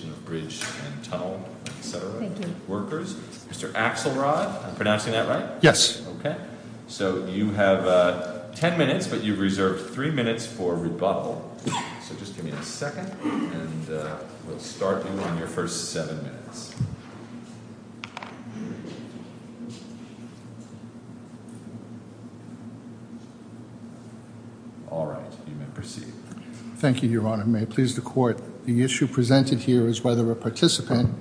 and Tunnel, etc., Workers. Mr. Axelrod, am I pronouncing that right? Yes. Okay. So you have 10 minutes, but you've reserved 3 minutes for rebuttal. So just give me a Thank you, Your Honor. May it please the Court, the issue presented here is whether a participant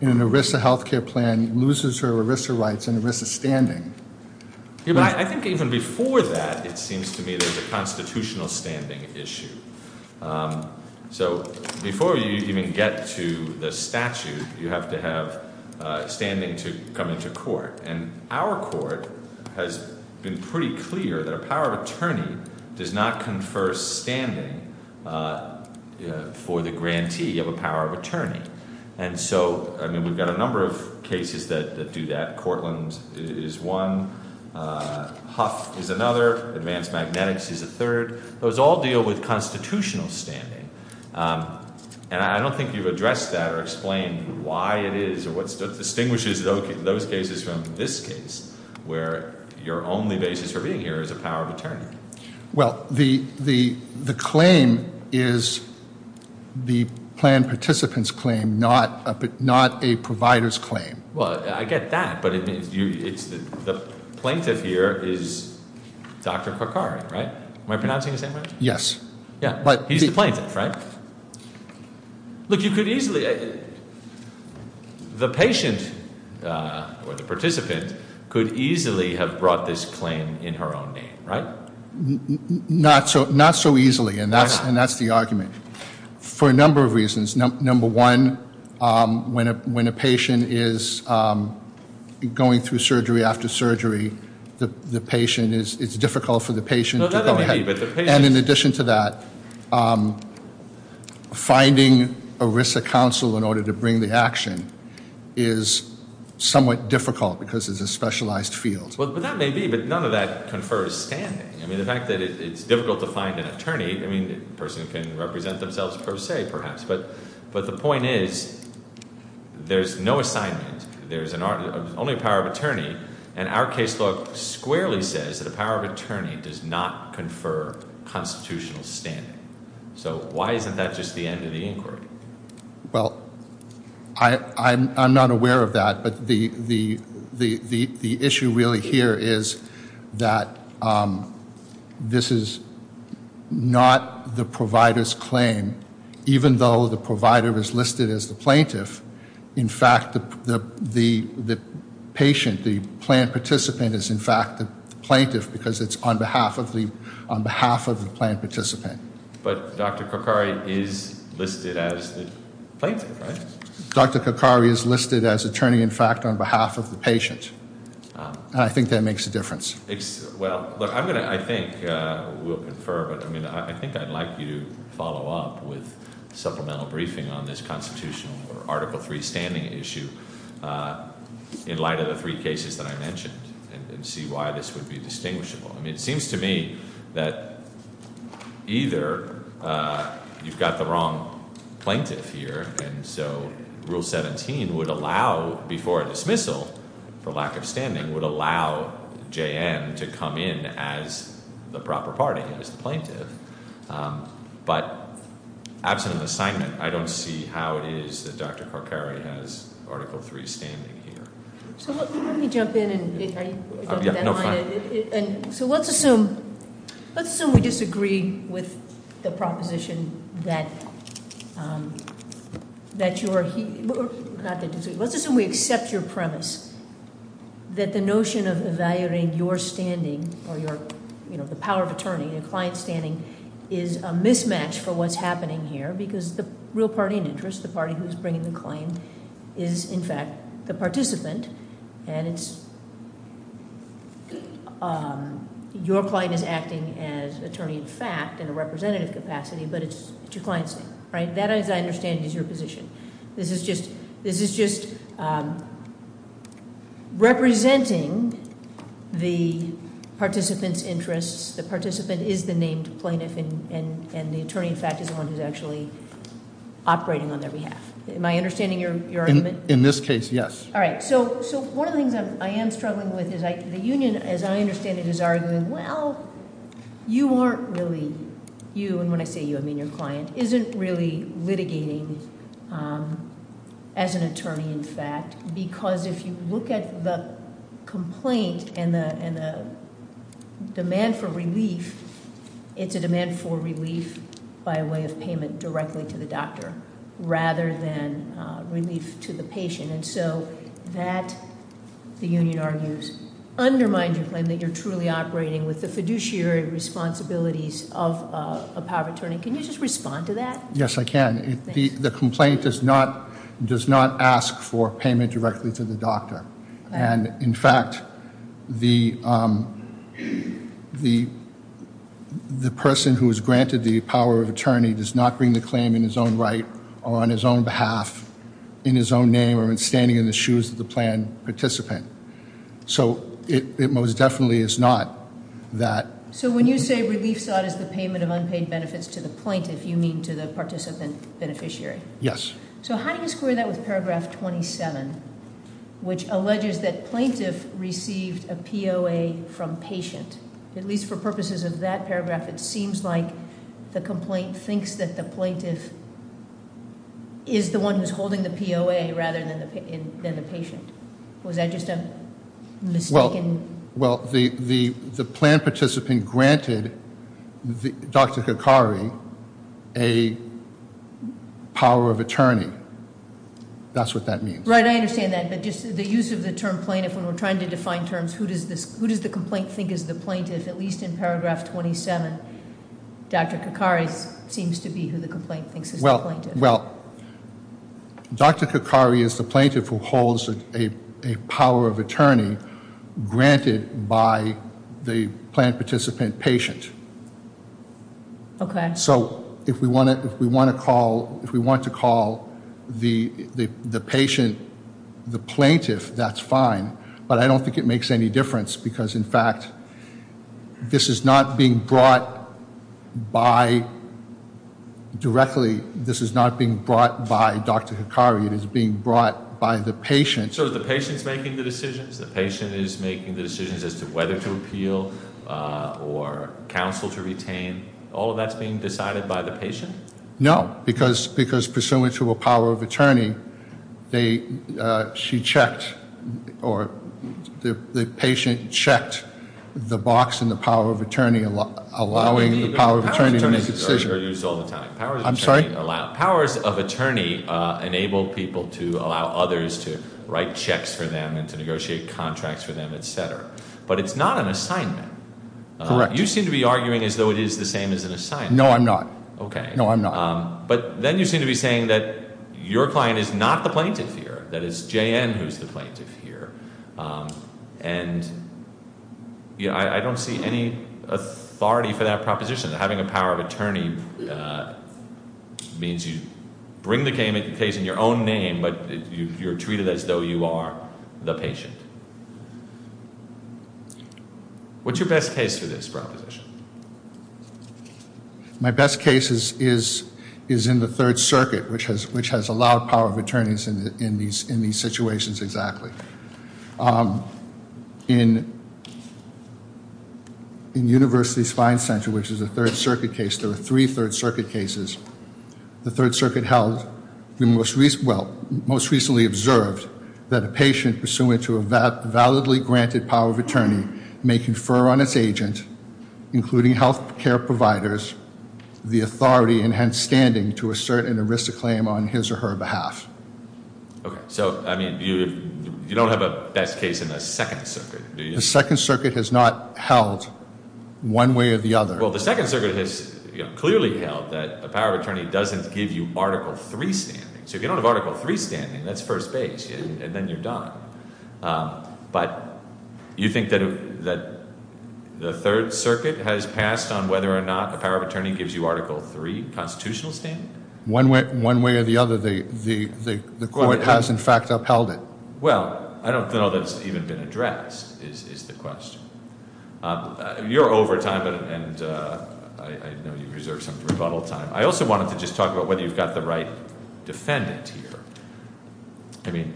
in an ERISA health care plan loses her ERISA rights and ERISA standing. I think even before that, it seems to me there's a constitutional standing issue. So before you even get to the statute, you have to have standing to come into court. And our court has been pretty clear that a power of attorney does not confer standing for the grantee of a power of attorney. And so, I mean, we've got a number of cases that do that. Courtland is one. Huff is another. Advanced Magnetics is a third. Those all deal with constitutional standing. And I don't think you've addressed that or explained why it is or what distinguishes those cases from this case, where your only basis for being here is a power of attorney. Well, the claim is the plan participant's claim, not a provider's claim. Well, I get that, but the plaintiff here is Dr. Korkari, right? Am I pronouncing the same way? Yes. Yeah, he's the plaintiff, right? Look, you could easily, the patient or the participant could easily have brought this claim in her own name, right? Not so easily, and that's the argument, for a number of reasons. Number one, when a patient is going through surgery after surgery, the patient is, it's difficult for the patient to go ahead. And in addition to that, finding a risk of counsel in order to bring the action is somewhat difficult because it's a specialized field. Well, that may be, but none of that confers standing. I mean, the fact that it's difficult to find an attorney, I mean, a person can represent themselves per se, perhaps. But the point is, there's no assignment. There's only a power of attorney, and our case law squarely says that a power of attorney does not confer constitutional standing. So why isn't that just the end of the inquiry? Well, I'm not aware of that, but the issue really here is that this is not the provider's claim, even though the provider is listed as the plaintiff. In fact, the patient, the planned participant, is in fact the plaintiff because it's on behalf of the planned participant. But Dr. Kokari is listed as the plaintiff, right? Dr. Kokari is listed as attorney, in fact, on behalf of the patient, and I think that makes a difference. Well, look, I'm going to, I think, we'll confer, but I mean, I think I'd like you to follow up with supplemental briefing on this constitutional or Article III standing issue in light of the three cases that I mentioned and see why this would be distinguishable. I mean, it seems to me that either you've got the wrong plaintiff here, and so Rule 17 would allow, before a dismissal for lack of standing, would allow J.N. to come in as the proper party, as the plaintiff. But absent an assignment, I don't see how it is that Dr. Kokari has Article III standing here. So let me jump in and- Yeah, no, fine. So let's assume we disagree with the proposition that you're, not that you disagree, let's assume we accept your premise that the notion of evaluating your standing or the power of attorney and client standing is a mismatch for what's happening here. Because the real party in interest, the party who's bringing the claim, is, in fact, the participant. And it's, your client is acting as attorney-in-fact in a representative capacity, but it's your client's name, right? That, as I understand it, is your position. This is just representing the participant's interests. The participant is the named plaintiff, and the attorney, in fact, is the one who's actually operating on their behalf. Am I understanding your argument? In this case, yes. All right. So one of the things I am struggling with is the union, as I understand it, is arguing, well, you aren't really, you, and when I say you, I mean your client, isn't really litigating as an attorney, in fact. Because if you look at the complaint and the demand for relief, it's a demand for relief by way of payment directly to the doctor rather than relief to the patient. And so that, the union argues, undermines your claim that you're truly operating with the fiduciary responsibilities of a power of attorney. Can you just respond to that? Yes, I can. The complaint does not ask for payment directly to the doctor. And, in fact, the person who is granted the power of attorney does not bring the claim in his own right, or on his own behalf, in his own name, or in standing in the shoes of the planned participant. So it most definitely is not that- So when you say relief sought is the payment of unpaid benefits to the plaintiff, you mean to the participant beneficiary? Yes. So how do you square that with paragraph 27, which alleges that plaintiff received a POA from patient? At least for purposes of that paragraph, it seems like the complaint thinks that the plaintiff is the one who's holding the POA rather than the patient. Was that just a mistaken- Well, the planned participant granted Dr. Kakari a power of attorney. That's what that means. Right, I understand that. But just the use of the term plaintiff, when we're trying to define terms, who does the complaint think is the plaintiff? At least in paragraph 27, Dr. Kakari seems to be who the complaint thinks is the plaintiff. Well, Dr. Kakari is the plaintiff who holds a power of attorney granted by the planned participant patient. Okay. So if we want to call the patient the plaintiff, that's fine. But I don't think it makes any difference because, in fact, this is not being brought by- Directly, this is not being brought by Dr. Kakari. It is being brought by the patient. So the patient's making the decisions? The patient is making the decisions as to whether to appeal or counsel to retain? All of that's being decided by the patient? No, because pursuant to a power of attorney, she checked or the patient checked the box in the power of attorney allowing the power of attorney to make a decision. Powers of attorney are used all the time. I'm sorry? Powers of attorney enable people to allow others to write checks for them and to negotiate contracts for them, et cetera. But it's not an assignment. Correct. You seem to be arguing as though it is the same as an assignment. No, I'm not. Okay. No, I'm not. But then you seem to be saying that your client is not the plaintiff here, that it's J.N. who's the plaintiff here, and I don't see any authority for that proposition. Having a power of attorney means you bring the case in your own name, but you're treated as though you are the patient. What's your best case for this proposition? My best case is in the Third Circuit, which has allowed power of attorneys in these situations exactly. In University's Fine Center, which is a Third Circuit case, there were three Third Circuit cases. The Third Circuit held, well, most recently observed that a patient pursuant to a validly granted power of attorney may confer on its agent, including health care providers, the authority and hence standing to assert an arista claim on his or her behalf. Okay. So, I mean, you don't have a best case in the Second Circuit, do you? The Second Circuit has not held one way or the other. Well, the Second Circuit has clearly held that a power of attorney doesn't give you Article III standing. So if you don't have Article III standing, that's first base, and then you're done. But you think that the Third Circuit has passed on whether or not a power of attorney gives you Article III constitutional standing? One way or the other, the court has, in fact, upheld it. Well, I don't know that it's even been addressed, is the question. You're over time, and I know you've reserved some rebuttal time. I also wanted to just talk about whether you've got the right defendant here. I mean,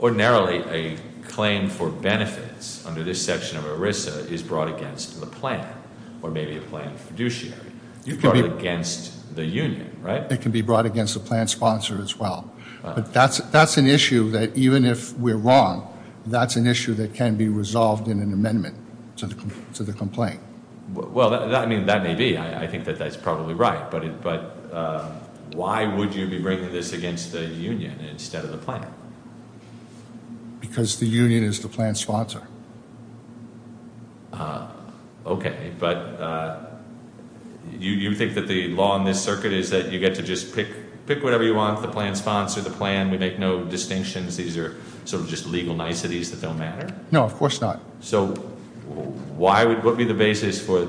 ordinarily, a claim for benefits under this section of ERISA is brought against the plan or maybe a plan of fiduciary. You've brought it against the union, right? It can be brought against the plan sponsor as well. But that's an issue that even if we're wrong, that's an issue that can be resolved in an amendment to the complaint. Well, I mean, that may be. I think that that's probably right, but why would you be bringing this against the union instead of the plan? Because the union is the plan sponsor. Okay, but you think that the law in this circuit is that you get to just pick whatever you want, the plan sponsor, the plan. We make no distinctions. These are sort of just legal niceties that don't matter. No, of course not. So what would be the basis for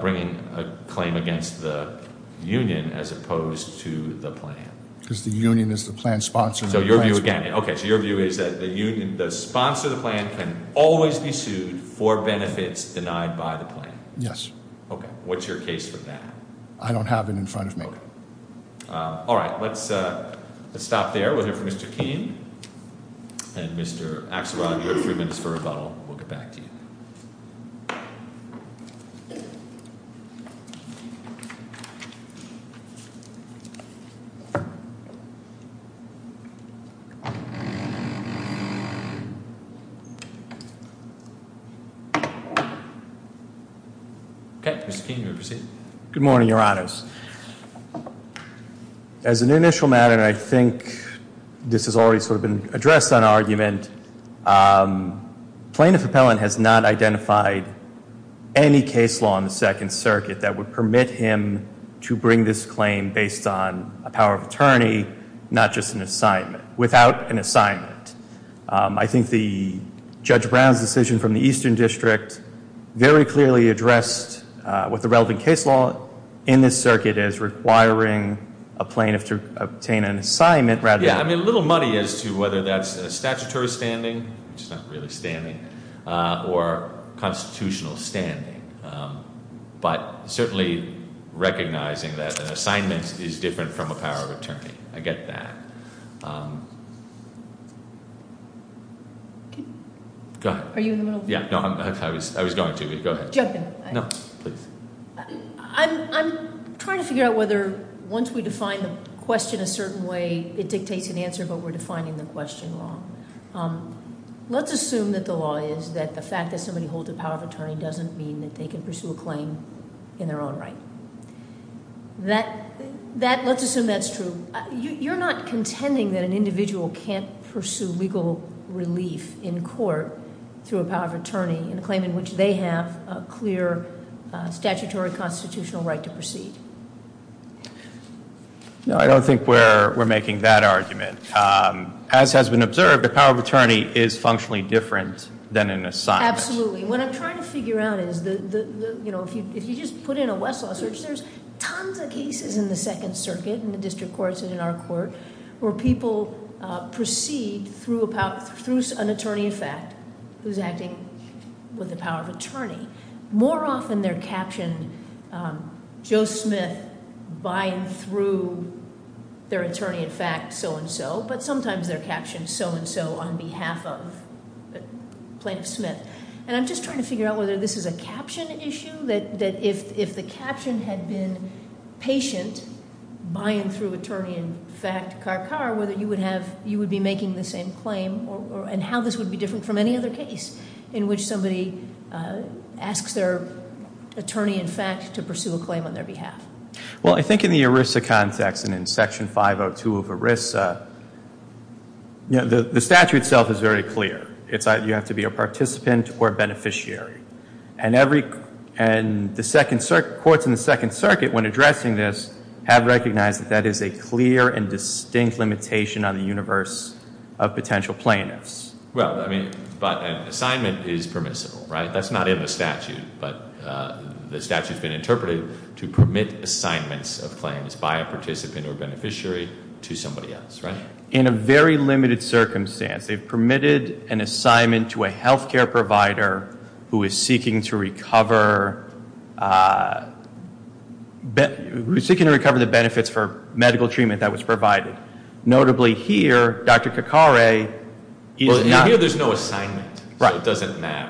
bringing a claim against the union as opposed to the plan? Because the union is the plan sponsor. So your view again? Okay, so your view is that the sponsor of the plan can always be sued for benefits denied by the plan? Yes. Okay. What's your case for that? I don't have it in front of me. All right. Let's stop there. We'll hear from Mr. Keene and Mr. Axelrod. You have three minutes for rebuttal. We'll get back to you. Okay, Mr. Keene, you may proceed. Good morning, Your Honors. As an initial matter, and I think this has already sort of been addressed on argument, plaintiff appellant has not identified any case law on the Second Circuit that would permit him to bring this claim based on a power of attorney, not just an assignment, without an assignment. I think Judge Brown's decision from the Eastern District very clearly addressed what the relevant case law in this circuit is, requiring a plaintiff to obtain an assignment. Yeah, I mean, a little muddy as to whether that's a statutory standing, which is not really standing, or constitutional standing. But certainly recognizing that an assignment is different from a power of attorney. I get that. Go ahead. Are you in the middle? Yeah, no, I was going to. Go ahead. Jump in. No, please. I'm trying to figure out whether once we define the question a certain way, it dictates an answer, but we're defining the question wrong. Let's assume that the law is that the fact that somebody holds a power of attorney doesn't mean that they can pursue a claim in their own right. Let's assume that's true. You're not contending that an individual can't pursue legal relief in court through a power of attorney, in a claim in which they have a clear statutory constitutional right to proceed. No, I don't think we're making that argument. As has been observed, the power of attorney is functionally different than an assignment. Absolutely. What I'm trying to figure out is, if you just put in a Westlaw search, there's tons of cases in the Second Circuit, in the district courts, and in our court, where people proceed through an attorney in fact who's acting with the power of attorney. More often, they're captioned Joe Smith buying through their attorney in fact so and so, but sometimes they're captioned so and so on behalf of Plaintiff Smith. And I'm just trying to figure out whether this is a caption issue, that if the caption had been patient, buying through attorney in fact car car, whether you would be making the same claim, and how this would be different from any other case, in which somebody asks their attorney in fact to pursue a claim on their behalf. Well, I think in the ERISA context, and in section 502 of ERISA, the statute itself is very clear. You have to be a participant or a beneficiary. And courts in the Second Circuit, when addressing this, have recognized that that is a clear and distinct limitation on the universe of potential plaintiffs. Well, I mean, but an assignment is permissible, right? That's not in the statute. But the statute's been interpreted to permit assignments of claims by a participant or beneficiary to somebody else, right? In a very limited circumstance, they've permitted an assignment to a health care provider who is seeking to recover the benefits for medical treatment that was provided. Notably here, Dr. Kakare is not- Well, here there's no assignment. Right. So it doesn't matter.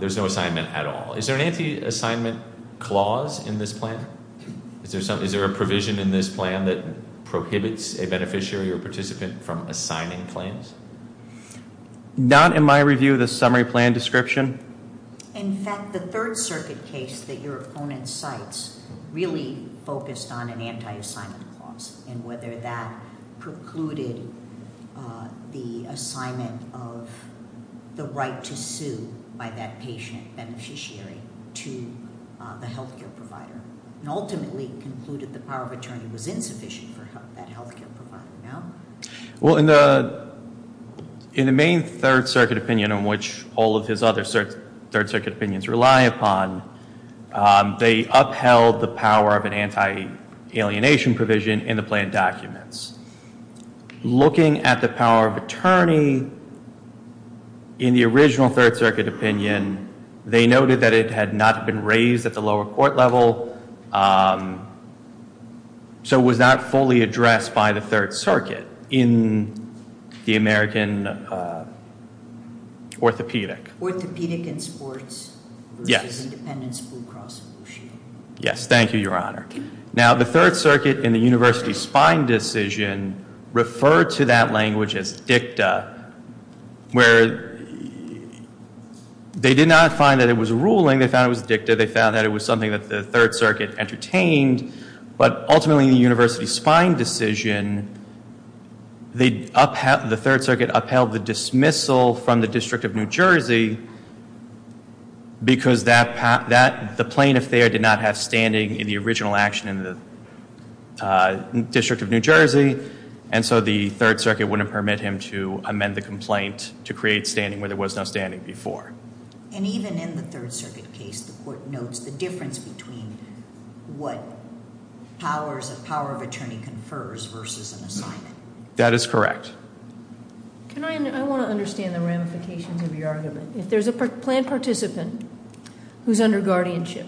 There's no assignment at all. Is there an anti-assignment clause in this plan? Is there a provision in this plan that prohibits a beneficiary or participant from assigning claims? Not in my review of the summary plan description. In fact, the Third Circuit case that your opponent cites really focused on an anti-assignment clause and whether that precluded the assignment of the right to sue by that patient beneficiary to the health care provider and ultimately concluded the power of attorney was insufficient for that health care provider, no? Well, in the main Third Circuit opinion in which all of his other Third Circuit opinions rely upon, they upheld the power of an anti-alienation provision in the plan documents. Looking at the power of attorney in the original Third Circuit opinion, they noted that it had not been raised at the lower court level, so it was not fully addressed by the Third Circuit in the American orthopedic. Orthopedic and sports versus independence, Blue Cross Blue Shield. Yes. Thank you, Your Honor. Now, the Third Circuit in the university's Spine decision referred to that language as dicta, where they did not find that it was a ruling. They found it was dicta. They found that it was something that the Third Circuit entertained, but ultimately in the university's Spine decision, the Third Circuit upheld the dismissal from the District of New Jersey because the plaintiff there did not have standing in the original action in the District of New Jersey, and so the Third Circuit wouldn't permit him to amend the complaint to create standing where there was no standing before. And even in the Third Circuit case, the court notes the difference between what powers a power of attorney confers versus an assignment. That is correct. I want to understand the ramifications of your argument. If there's a planned participant who's under guardianship,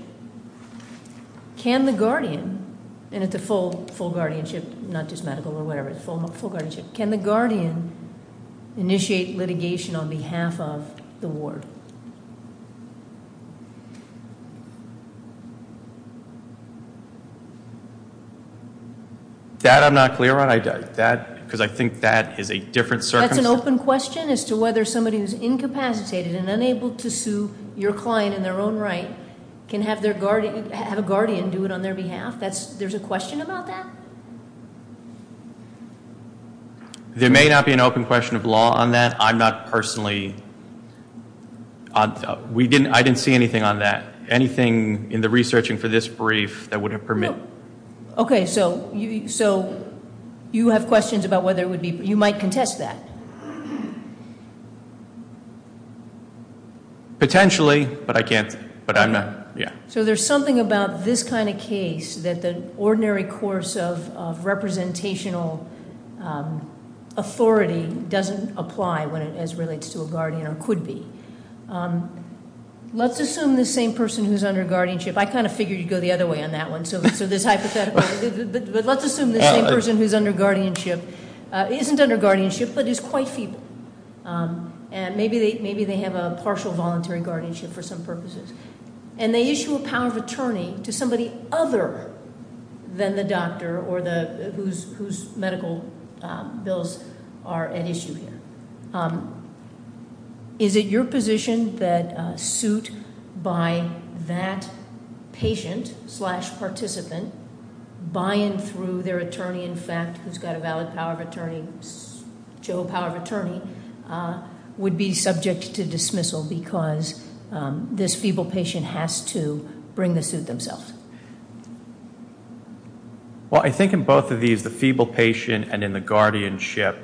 can the guardian, and it's a full guardianship, not just medical or whatever, it's full guardianship, can the guardian initiate litigation on behalf of the ward? That I'm not clear on, because I think that is a different circumstance. That's an open question as to whether somebody who's incapacitated and unable to sue your client in their own right can have a guardian do it on their behalf. There's a question about that? There may not be an open question of law on that. I'm not personally, I didn't see anything on that. Anything in the researching for this brief that would permit. Okay, so you have questions about whether it would be, you might contest that. Potentially, but I can't, but I'm not, yeah. So there's something about this kind of case that the ordinary course of representational authority doesn't apply as it relates to a guardian or could be. Let's assume the same person who's under guardianship, I kind of figured you'd go the other way on that one, so this hypothetical, but let's assume the same person who's under guardianship isn't under guardianship but is quite feeble. And maybe they have a partial voluntary guardianship for some purposes. And they issue a power of attorney to somebody other than the doctor or whose medical bills are at issue here. Is it your position that a suit by that patient slash participant, by and through their attorney, in fact, who's got a valid power of attorney, Joe, power of attorney, would be subject to dismissal because this feeble patient has to bring the suit themselves? Well, I think in both of these, the feeble patient and in the guardianship,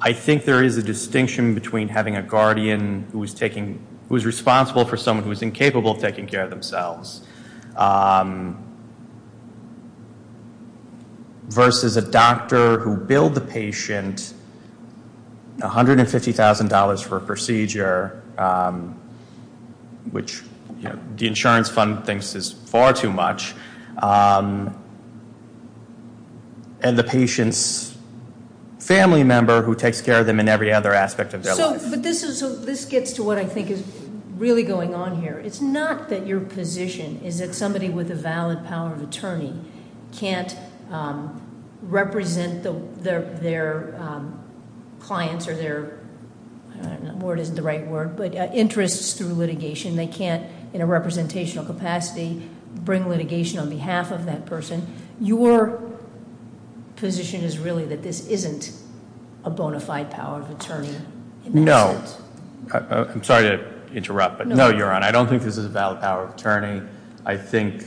I think there is a distinction between having a guardian who is responsible for someone who is incapable of taking care of themselves versus a doctor who billed the patient $150,000 for a procedure, which the insurance fund thinks is far too much, and the patient's family member who takes care of them in every other aspect of their life. So this gets to what I think is really going on here. It's not that your position is that somebody with a valid power of attorney can't represent their clients or their, I don't know, word isn't the right word, but interests through litigation. They can't, in a representational capacity, bring litigation on behalf of that person. Your position is really that this isn't a bona fide power of attorney. No, I'm sorry to interrupt, but no, Your Honor, I don't think this is a valid power of attorney. I think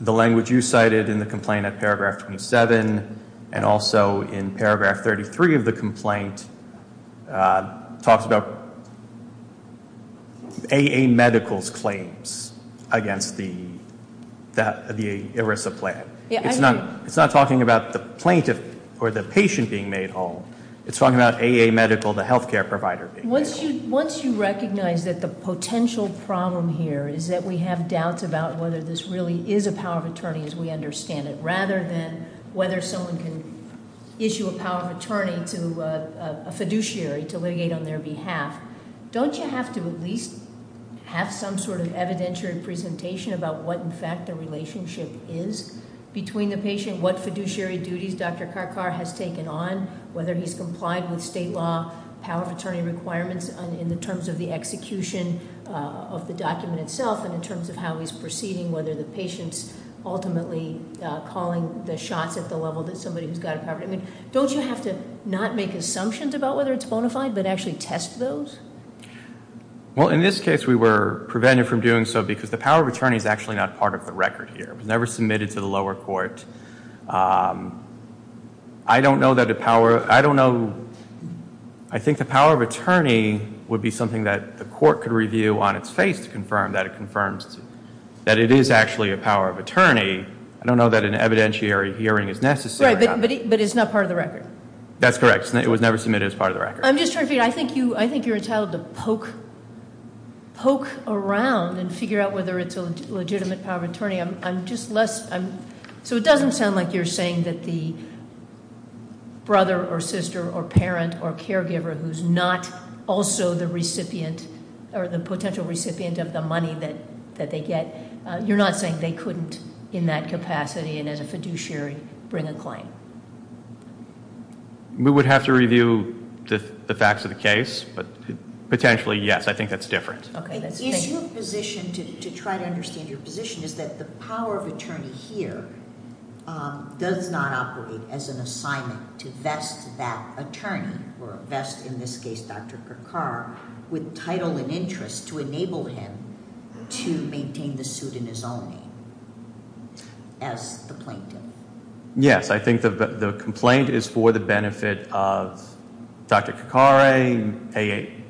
the language you cited in the complaint at paragraph 27 and also in paragraph 33 of the complaint talks about AA Medical's claims against the ERISA plan. It's not talking about the plaintiff or the patient being made whole. It's talking about AA Medical, the healthcare provider being made whole. Once you recognize that the potential problem here is that we have doubts about whether this really is a power of attorney as we understand it, rather than whether someone can issue a power of attorney to a fiduciary to litigate on their behalf. Don't you have to at least have some sort of evidentiary presentation about what, in fact, the relationship is between the patient, what fiduciary duties Dr. Karkar has taken on, whether he's complied with state law power of attorney requirements in the terms of the execution of the document itself. And in terms of how he's proceeding, whether the patient's ultimately calling the shots at the level that somebody who's got a power of attorney. Don't you have to not make assumptions about whether it's bona fide, but actually test those? Well, in this case, we were prevented from doing so because the power of attorney is actually not part of the record here. It was never submitted to the lower court. I don't know that a power, I don't know, I think the power of attorney would be something that the court could review on its face to confirm that it confirms. That it is actually a power of attorney. I don't know that an evidentiary hearing is necessary. Right, but it's not part of the record. That's correct. It was never submitted as part of the record. I'm just trying to figure out, I think you're entitled to poke around and figure out whether it's a legitimate power of attorney. So it doesn't sound like you're saying that the brother or sister or parent or caregiver who's not also the recipient or the potential recipient of the money that they get. You're not saying they couldn't, in that capacity and as a fiduciary, bring a claim? We would have to review the facts of the case, but potentially, yes, I think that's different. Okay, that's- Is your position, to try to understand your position, is that the power of attorney here does not operate as an assignment to vest that attorney, or vest in this case Dr. Kakar, with title and interest to enable him to maintain the suit in his own name as the plaintiff? Yes, I think the complaint is for the benefit of Dr. Kakare,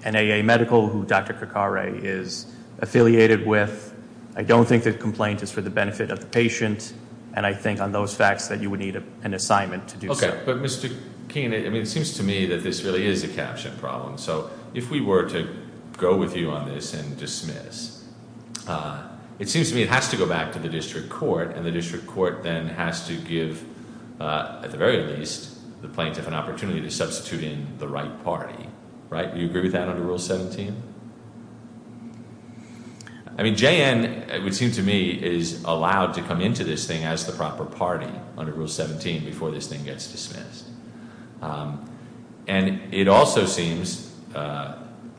an AA medical who Dr. Kakare is affiliated with. I don't think the complaint is for the benefit of the patient, and I think on those facts that you would need an assignment to do so. Okay, but Mr. Keene, it seems to me that this really is a caption problem, so if we were to go with you on this and dismiss, it seems to me it has to go back to the district court, and the district court then has to give, at the very least, the plaintiff an opportunity to substitute in the right party, right? Do you agree with that under Rule 17? I mean, JN, it would seem to me, is allowed to come into this thing as the proper party under Rule 17 before this thing gets dismissed. And it also seems that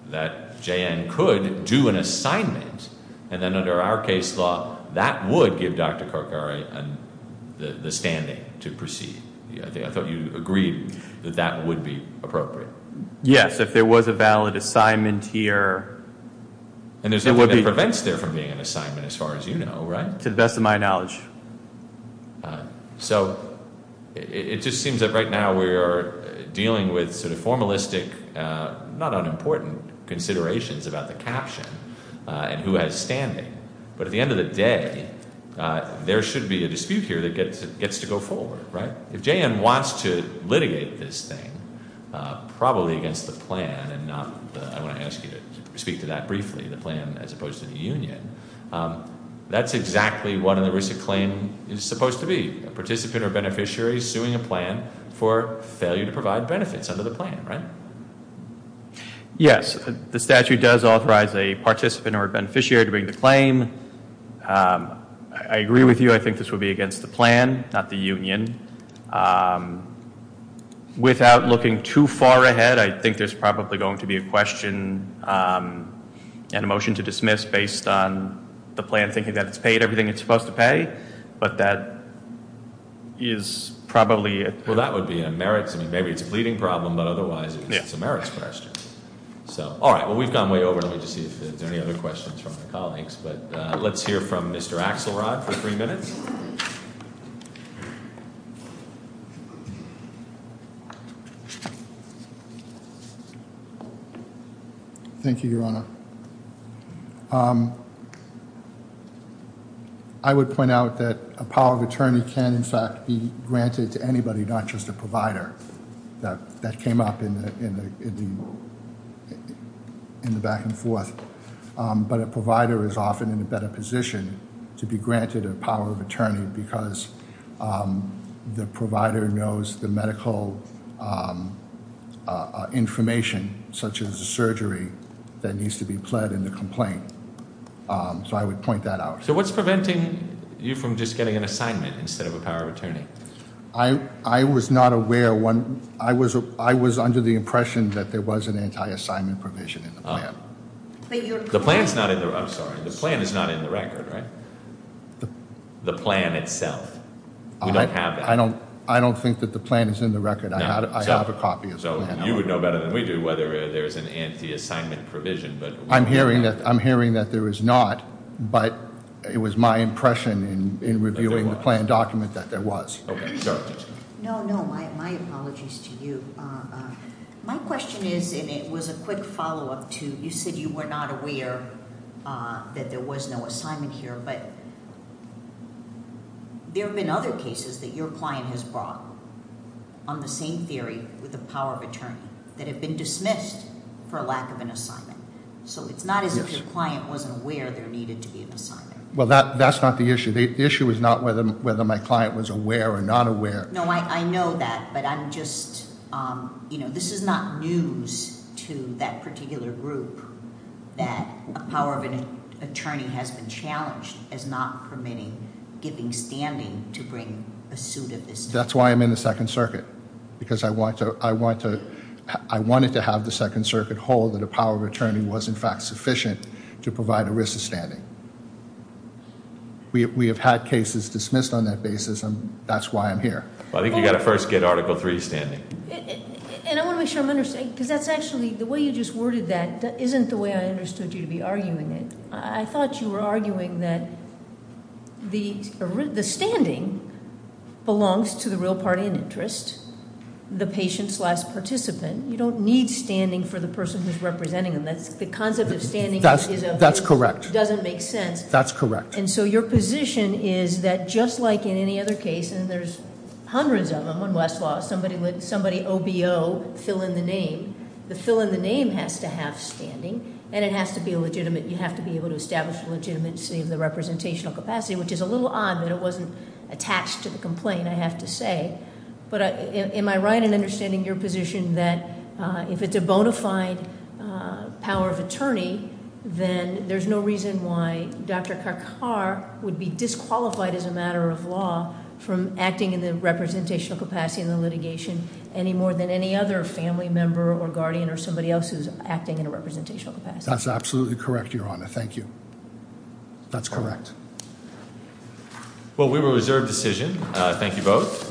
JN could do an assignment, and then under our case law, that would give Dr. Kakare the standing to proceed. I thought you agreed that that would be appropriate. Yes, if there was a valid assignment here, there would be- And there's nothing that prevents there from being an assignment, as far as you know, right? To the best of my knowledge. So, it just seems that right now we are dealing with sort of formalistic, not unimportant, considerations about the caption and who has standing. But at the end of the day, there should be a dispute here that gets to go forward, right? If JN wants to litigate this thing, probably against the plan and not the, I want to ask you to speak to that briefly, the plan as opposed to the union. That's exactly what an erisic claim is supposed to be, a participant or beneficiary suing a plan for failure to provide benefits under the plan, right? Yes, the statute does authorize a participant or a beneficiary to bring the claim. I agree with you, I think this would be against the plan, not the union. Without looking too far ahead, I think there's probably going to be a question and a motion to dismiss based on the plan thinking that it's paid everything it's supposed to pay. But that is probably- Well, that would be a merits, maybe it's a pleading problem, but otherwise it's a merits question. So, all right, well, we've gone way over, let me just see if there's any other questions from the colleagues. But let's hear from Mr. Axelrod for three minutes. Thank you, Your Honor. I would point out that a power of attorney can in fact be granted to anybody not just a provider. That came up in the back and forth. But a provider is often in a better position to be granted a power of attorney because the provider knows the medical information, such as the surgery, that needs to be pled in the complaint. So I would point that out. So what's preventing you from just getting an assignment instead of a power of attorney? I was not aware when, I was under the impression that there was an anti-assignment provision in the plan. The plan's not in the, I'm sorry, the plan is not in the record, right? The plan itself, we don't have that. I don't think that the plan is in the record, I have a copy of the plan. So you would know better than we do whether there's an anti-assignment provision, but- I'm hearing that there is not, but it was my impression in reviewing the plan document that there was. Okay, sorry. No, no, my apologies to you. My question is, and it was a quick follow up to, you said you were not aware that there was no assignment here, but there have been other cases that your client has brought on the same theory with the power of attorney that have been dismissed for a lack of an assignment. So it's not as if your client wasn't aware there needed to be an assignment. Well, that's not the issue. The issue is not whether my client was aware or not aware. No, I know that, but I'm just, this is not news to that particular group that a power of an attorney has been challenged as not permitting giving standing to bring a suit of this type. That's why I'm in the Second Circuit. Because I wanted to have the Second Circuit hold that a power of attorney was in fact sufficient to provide a wrist of standing. We have had cases dismissed on that basis, and that's why I'm here. I think you gotta first get Article III standing. And I want to make sure I'm understanding, because that's actually, the way you just worded that isn't the way I understood you to be arguing it. I thought you were arguing that the standing belongs to the real party in interest. The patient slash participant. You don't need standing for the person who's representing them. That's the concept of standing is a- That's correct. Doesn't make sense. That's correct. And so your position is that just like in any other case, and there's hundreds of them on Westlaw. Somebody OBO, fill in the name. The fill in the name has to have standing, and it has to be legitimate. You have to be able to establish the legitimacy of the representational capacity, which is a little odd that it wasn't attached to the complaint, I have to say. But am I right in understanding your position that if it's a bona fide power of attorney, then there's no reason why Dr. Law from acting in the representational capacity in the litigation any more than any other family member or guardian or somebody else who's acting in a representational capacity. That's absolutely correct, Your Honor. Thank you. That's correct. Well, we reserve decision. Thank you both.